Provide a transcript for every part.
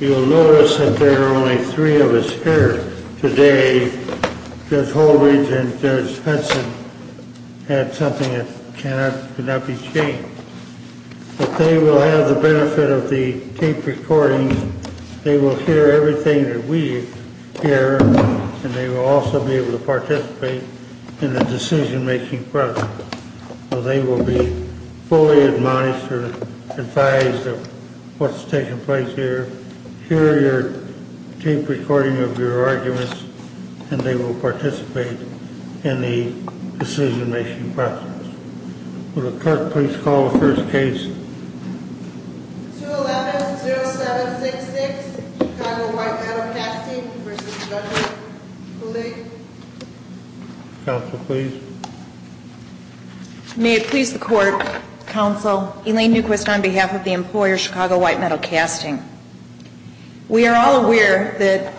You'll notice that there are only three of us here today. Judge Holdridge and Judge Hudson had something that cannot be changed. But they will have the benefit of the tape recording. They will hear everything that we hear, and they will also be able to participate in the decision-making process. So they will be fully admonished or advised of what's taking place here, hear your tape recording of your arguments, and they will participate in the decision-making process. Would the clerk please call the first case? 211-0766, Chicago White Metal Casting v. Judge Kulig. Counsel, please. May it please the Court, Counsel, Elaine Newquist on behalf of the employer, Chicago White Metal Casting. We are all aware that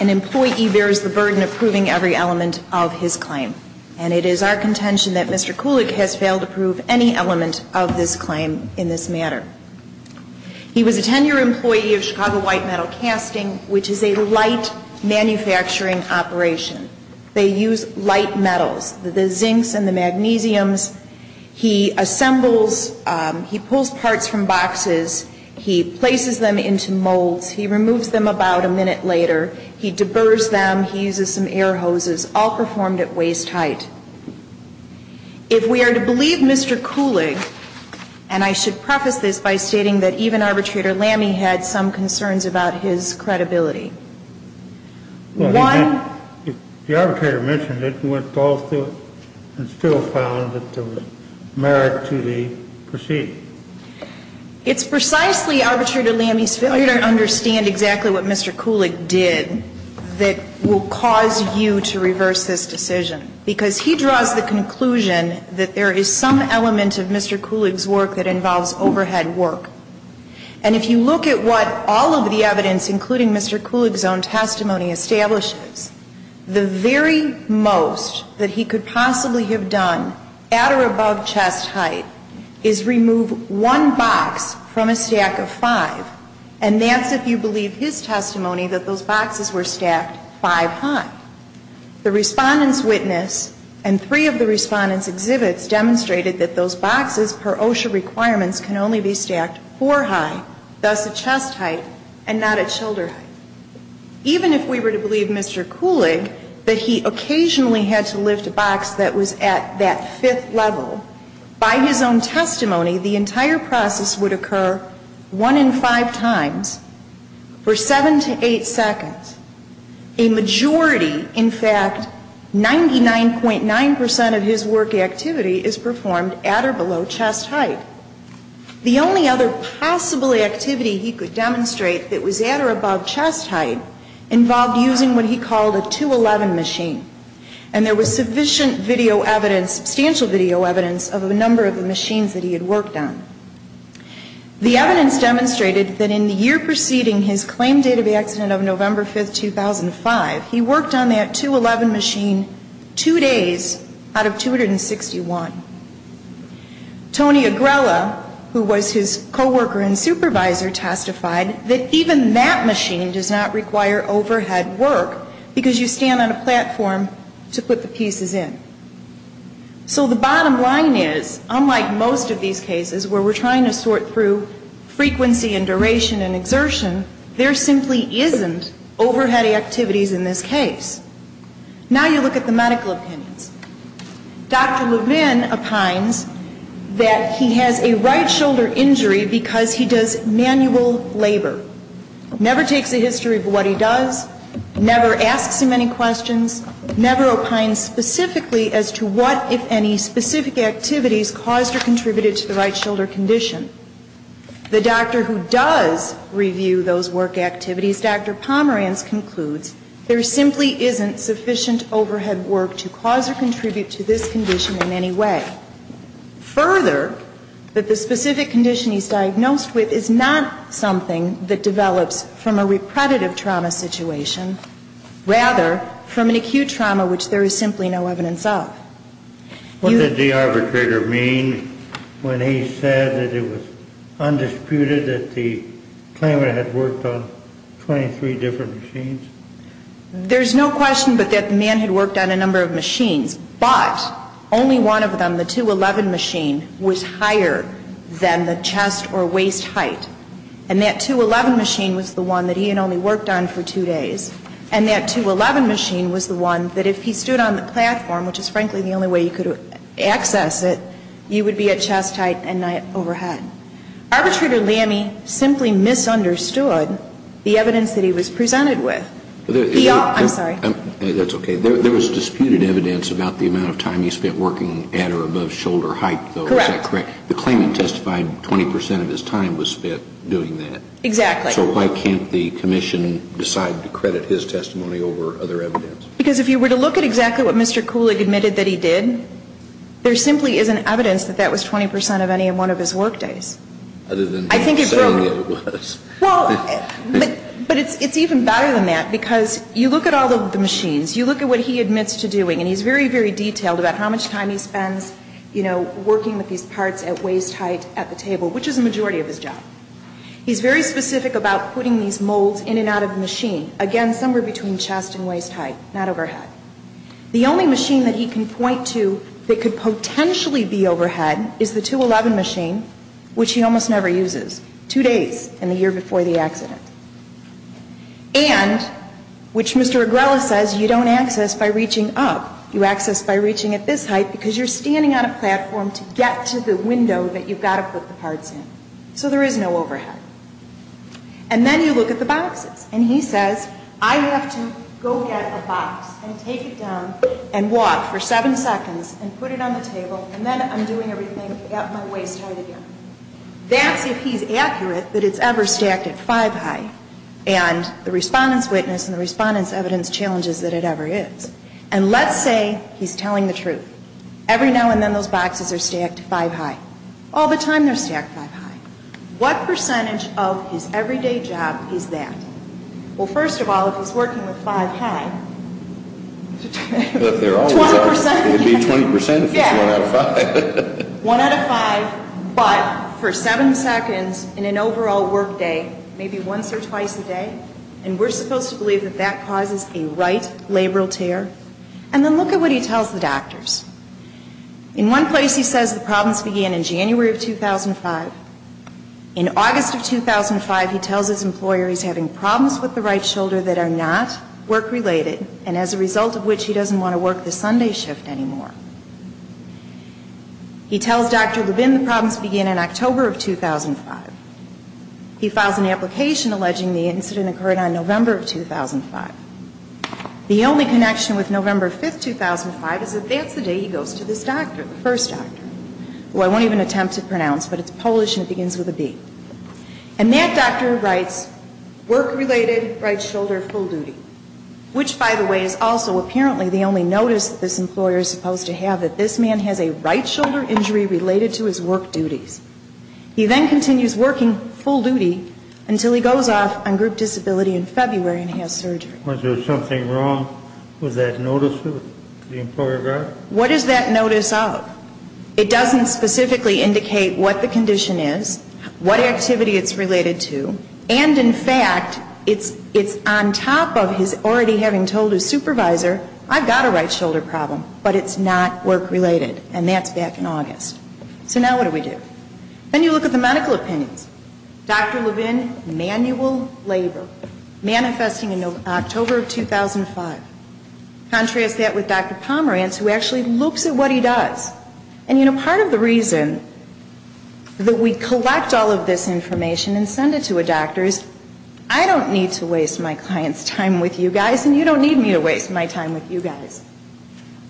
an employee bears the burden of proving every element of his claim, and it is our contention that Mr. Kulig has failed to prove any element of this claim in this manner. He was a tenure employee of Chicago White Metal Casting, which is a light manufacturing operation. They use light metals, the zincs and the magnesiums. He assembles, he pulls parts from boxes. He places them into molds. He removes them about a minute later. He deburs them. He uses some air hoses, all performed at waist height. If we are to believe Mr. Kulig, and I should preface this by stating that even Arbitrator Lamy had some concerns about his credibility. The Arbitrator mentioned it and went through it and still found that there was merit to the proceeding. It's precisely Arbitrator Lamy's failure to understand exactly what Mr. Kulig did that will cause you to reverse this decision. Because he draws the conclusion that there is some element of Mr. Kulig's work that involves overhead work. And if you look at what all of the evidence, including Mr. Kulig's own testimony, establishes, the very most that he could possibly have done at or above chest height is remove one box from a stack of five. And that's if you believe his testimony that those boxes were stacked five high. The Respondent's witness and three of the Respondent's exhibits demonstrated that those boxes per OSHA requirements can only be stacked four high, thus at chest height and not at shoulder height. Even if we were to believe Mr. Kulig that he occasionally had to lift a box that was at that fifth level, by his own testimony the entire process would occur one in five times for seven to eight seconds. A majority, in fact, 99.9% of his work activity is performed at or below chest height. The only other possible activity he could demonstrate that was at or above chest height involved using what he called a 211 machine. And there was sufficient video evidence, substantial video evidence of a number of the machines that he had worked on. The evidence demonstrated that in the year preceding his claim date of accident of November 5th, 2005, he worked on that 211 machine two days out of 261. Tony Agrella, who was his coworker and supervisor, testified that even that machine does not require overhead work, because you stand on a platform to put the pieces in. So the bottom line is, unlike most of these cases where we're trying to sort through frequency and duration and exertion, there simply isn't overhead activities in this case. Now you look at the medical opinions. Dr. Lubin opines that he has a right shoulder injury because he does manual labor, never takes a history of what he does, never asks him any questions, never opines specifically as to what, if any, specific activities caused or contributed to the right shoulder condition. The doctor who does review those work activities, Dr. Pomeranz, concludes there simply isn't sufficient overhead work to cause or contribute to this condition in any way. Further, that the specific condition he's diagnosed with is not something that develops from a repredative trauma situation, rather from an acute trauma which there is simply no evidence of. What did the arbitrator mean when he said that it was undisputed that the claimant had worked on 23 different machines? There's no question but that the man had worked on a number of machines. But only one of them, the 211 machine, was higher than the chest or waist height. And that 211 machine was the one that he had only worked on for two days. And that 211 machine was the one that if he stood on the platform, which is frankly the only way you could access it, you would be at chest height and not overhead. Arbitrator Lamme simply misunderstood the evidence that he was presented with. I'm sorry. That's okay. There was disputed evidence about the amount of time he spent working at or above shoulder height, though. Correct. Is that correct? The claimant testified 20 percent of his time was spent doing that. Exactly. So why can't the commission decide to credit his testimony over other evidence? Because if you were to look at exactly what Mr. Kulig admitted that he did, there simply isn't evidence that that was 20 percent of any one of his work days. Other than saying it was. Well, but it's even better than that because you look at all of the machines, you look at what he admits to doing, and he's very, very detailed about how much time he spends, you know, working with these parts at waist height at the table, which is a majority of his job. He's very specific about putting these molds in and out of the machine. Again, somewhere between chest and waist height, not overhead. The only machine that he can point to that could potentially be overhead is the 211 machine, which he almost never uses, two days in the year before the accident. And, which Mr. Agrella says you don't access by reaching up, you access by reaching at this height because you're standing on a platform to get to the window that you've got to put the parts in. So there is no overhead. And then you look at the boxes. And he says, I have to go get a box and take it down and walk for seven seconds and put it on the table, and then I'm doing everything at my waist height again. That's if he's accurate that it's ever stacked at five high. And the respondent's witness and the respondent's evidence challenges that it ever is. And let's say he's telling the truth. Every now and then those boxes are stacked five high. All the time they're stacked five high. What percentage of his everyday job is that? Well, first of all, if he's working with five high, 20%. It would be 20% if it's one out of five. One out of five, but for seven seconds in an overall work day, maybe once or twice a day. And we're supposed to believe that that causes a right labral tear. And then look at what he tells the doctors. In one place he says the problems began in January of 2005. In August of 2005 he tells his employer he's having problems with the right shoulder that are not work-related, and as a result of which he doesn't want to work the Sunday shift anymore. He tells Dr. Levin the problems begin in October of 2005. He files an application alleging the incident occurred on November of 2005. The only connection with November 5, 2005 is that that's the day he goes to this doctor, the first doctor, who I won't even attempt to pronounce, but it's Polish and it begins with a B. And that doctor writes, work-related, right shoulder, full duty. Which, by the way, is also apparently the only notice that this employer is supposed to have, that this man has a right shoulder injury related to his work duties. He then continues working full duty until he goes off on group disability in February and has surgery. Was there something wrong with that notice that the employer got? What is that notice of? It doesn't specifically indicate what the condition is, what activity it's related to, and in fact it's on top of his already having told his supervisor, I've got a right shoulder problem, but it's not work-related, and that's back in August. So now what do we do? Then you look at the medical opinions. Dr. Levin, manual labor, manifesting in October of 2005. Contrast that with Dr. Pomerantz, who actually looks at what he does. And, you know, part of the reason that we collect all of this information and send it to a doctor is, I don't need to waste my client's time with you guys, and you don't need me to waste my time with you guys.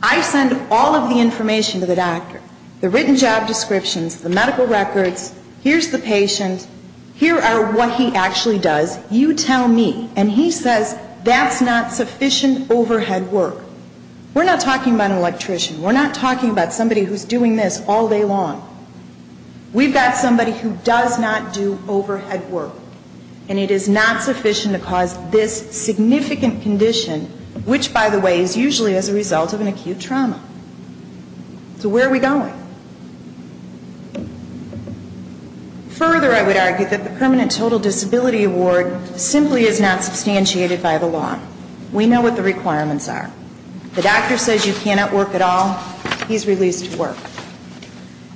I send all of the information to the doctor, the written job descriptions, the medical records, here's the patient, here are what he actually does, you tell me. And he says, that's not sufficient overhead work. We're not talking about an electrician. We're not talking about somebody who's doing this all day long. We've got somebody who does not do overhead work, and it is not sufficient to cause this significant condition, which, by the way, is usually as a result of an acute trauma. So where are we going? Further, I would argue that the permanent total disability award simply is not substantiated by the law. We know what the requirements are. The doctor says you cannot work at all. He's released to work.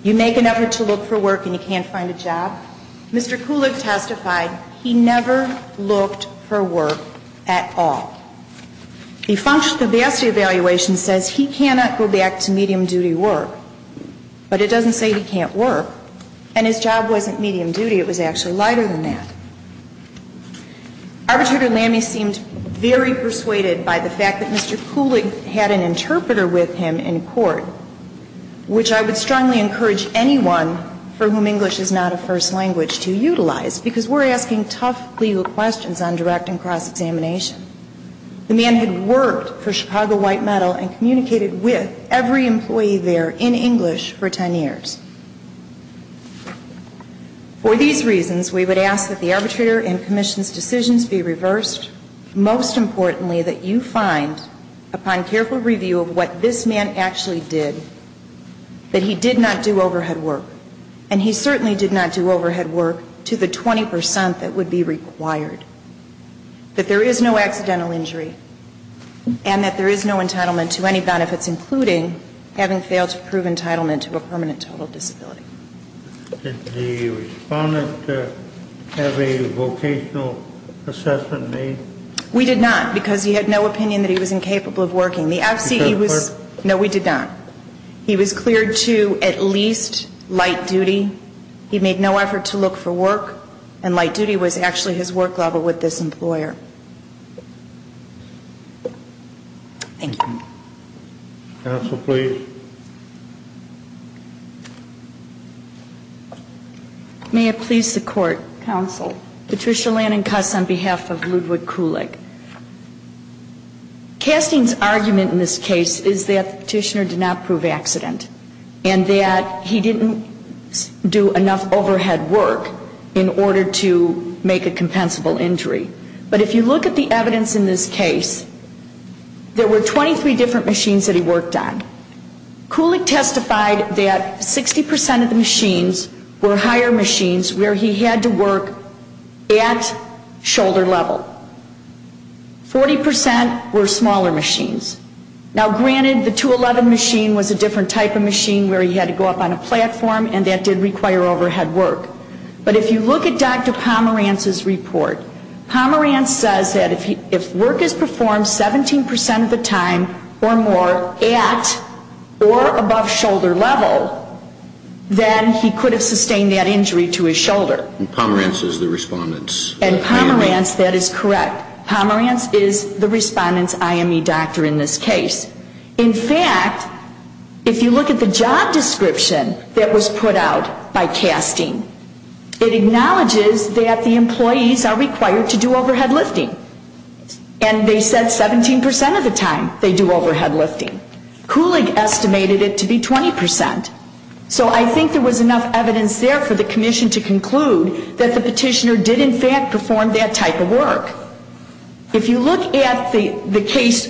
You make an effort to look for work, and you can't find a job. Mr. Kulig testified he never looked for work at all. The functional capacity evaluation says he cannot go back to medium-duty work. But it doesn't say he can't work. And his job wasn't medium-duty. It was actually lighter than that. Arbitrator Lamme seemed very persuaded by the fact that Mr. Kulig had an interpreter with him in court, which I would strongly encourage anyone for whom English is not a first language to utilize, because we're asking tough legal questions on direct and cross-examination. The man had worked for Chicago White Metal and communicated with every employee there in English for 10 years. For these reasons, we would ask that the arbitrator and commission's decisions be reversed. Most importantly, that you find, upon careful review of what this man actually did, that he did not do overhead work. And he certainly did not do overhead work to the 20 percent that would be required. That there is no accidental injury, and that there is no entitlement to any benefits, including having failed to prove entitlement to a permanent total disability. Did the respondent have a vocational assessment made? We did not, because he had no opinion that he was incapable of working. The FCE was ñ no, we did not. He was cleared to at least light duty. He made no effort to look for work, and light duty was actually his work level with this employer. Thank you. Counsel, please. May it please the Court, counsel, Patricia Lannan Cuss on behalf of Ludwig Kulig. Casting's argument in this case is that the petitioner did not prove accident, and that he didn't do enough overhead work in order to make a compensable injury. But if you look at the evidence in this case, there were 23 different machines that he worked on. Kulig testified that 60 percent of the machines were higher machines where he had to work at shoulder level. Forty percent were smaller machines. Now, granted, the 211 machine was a different type of machine where he had to go up on a platform, and that did require overhead work. But if you look at Dr. Pomerantz's report, Pomerantz says that if work is performed 17 percent of the time or more at or above shoulder level, then he could have sustained that injury to his shoulder. And Pomerantz is the respondent's IME? doctor in this case. In fact, if you look at the job description that was put out by casting, it acknowledges that the employees are required to do overhead lifting. And they said 17 percent of the time they do overhead lifting. Kulig estimated it to be 20 percent. So I think there was enough evidence there for the commission to conclude that the petitioner did in fact perform that type of work. But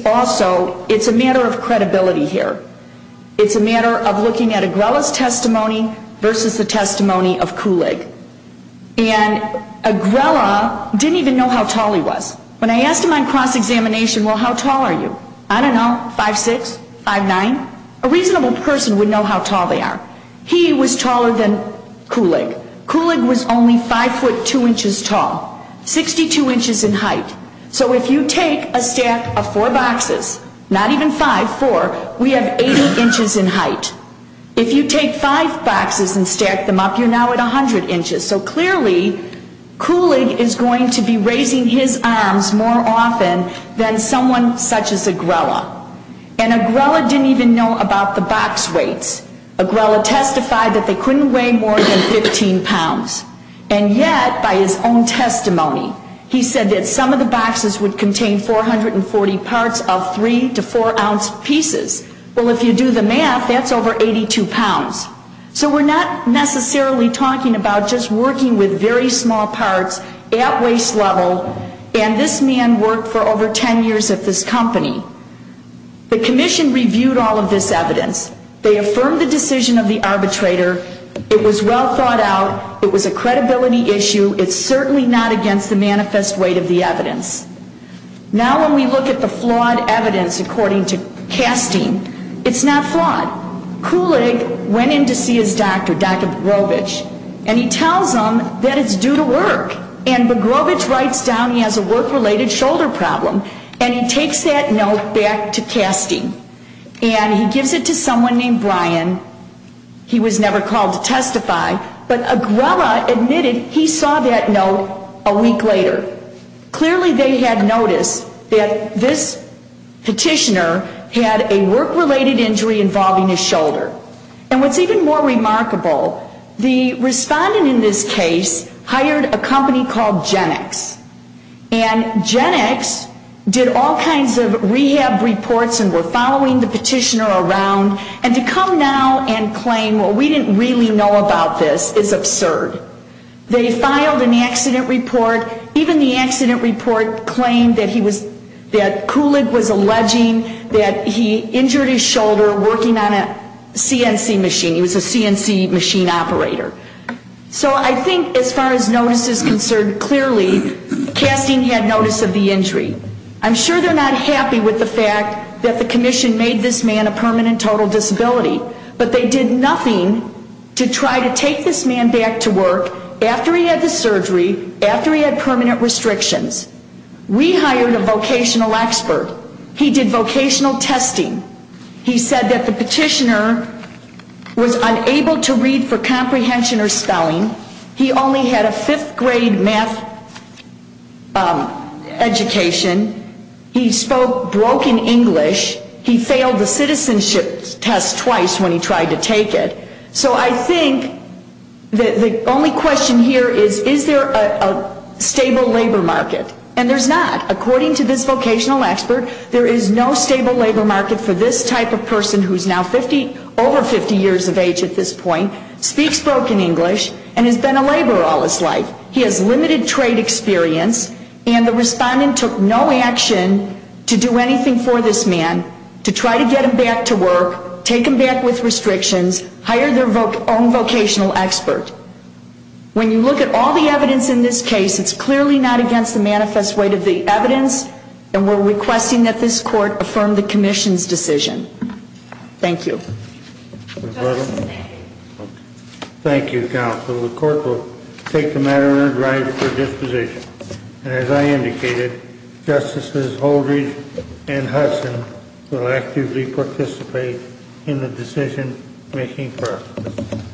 also, it's a matter of credibility here. It's a matter of looking at Agrella's testimony versus the testimony of Kulig. And Agrella didn't even know how tall he was. When I asked him on cross-examination, well, how tall are you? I don't know, 5'6", 5'9"? A reasonable person would know how tall they are. He was taller than Kulig. Kulig was only 5'2", 62 inches in height. So if you take a stack of four boxes, not even five, four, we have 80 inches in height. If you take five boxes and stack them up, you're now at 100 inches. So clearly, Kulig is going to be raising his arms more often than someone such as Agrella. And Agrella didn't even know about the box weights. Agrella testified that they couldn't weigh more than 15 pounds. And yet, by his own testimony, he said that some of the boxes would contain 440 parts of 3 to 4-ounce pieces. Well, if you do the math, that's over 82 pounds. So we're not necessarily talking about just working with very small parts at waist level. And this man worked for over 10 years at this company. The commission reviewed all of this evidence. They affirmed the decision of the arbitrator. It was well thought out. It was a credibility issue. It's certainly not against the manifest weight of the evidence. Now when we look at the flawed evidence according to Castine, it's not flawed. Kulig went in to see his doctor, Dr. Bogrovich, and he tells him that it's due to work. And Bogrovich writes down he has a work-related shoulder problem. And he takes that note back to Castine. And he gives it to someone named Brian. He was never called to testify. But Agrella admitted he saw that note a week later. Clearly they had noticed that this petitioner had a work-related injury involving his shoulder. And what's even more remarkable, the respondent in this case hired a company called GenX. And GenX did all kinds of rehab reports and were following the petitioner around. And to come now and claim, well, we didn't really know about this is absurd. They filed an accident report. Even the accident report claimed that Kulig was alleging that he injured his shoulder working on a CNC machine. He was a CNC machine operator. So I think as far as notice is concerned, clearly Castine had notice of the injury. I'm sure they're not happy with the fact that the commission made this man a permanent total disability. But they did nothing to try to take this man back to work after he had the surgery, after he had permanent restrictions. We hired a vocational expert. He did vocational testing. He said that the petitioner was unable to read for comprehension or spelling. He only had a fifth grade math education. He spoke broken English. He failed the citizenship test twice when he tried to take it. So I think the only question here is, is there a stable labor market? And there's not. According to this vocational expert, there is no stable labor market for this type of person who is now over 50 years of age at this point, speaks broken English, and has been a laborer all his life. He has limited trade experience. And the respondent took no action to do anything for this man to try to get him back to work, take him back with restrictions, hire their own vocational expert. When you look at all the evidence in this case, it's clearly not against the manifest weight of the evidence. And we're requesting that this court affirm the commission's decision. Thank you. Thank you, counsel. The court will take the matter under drive for disposition. And as I indicated, Justices Holdrege and Hudson will actively participate in the decision-making process.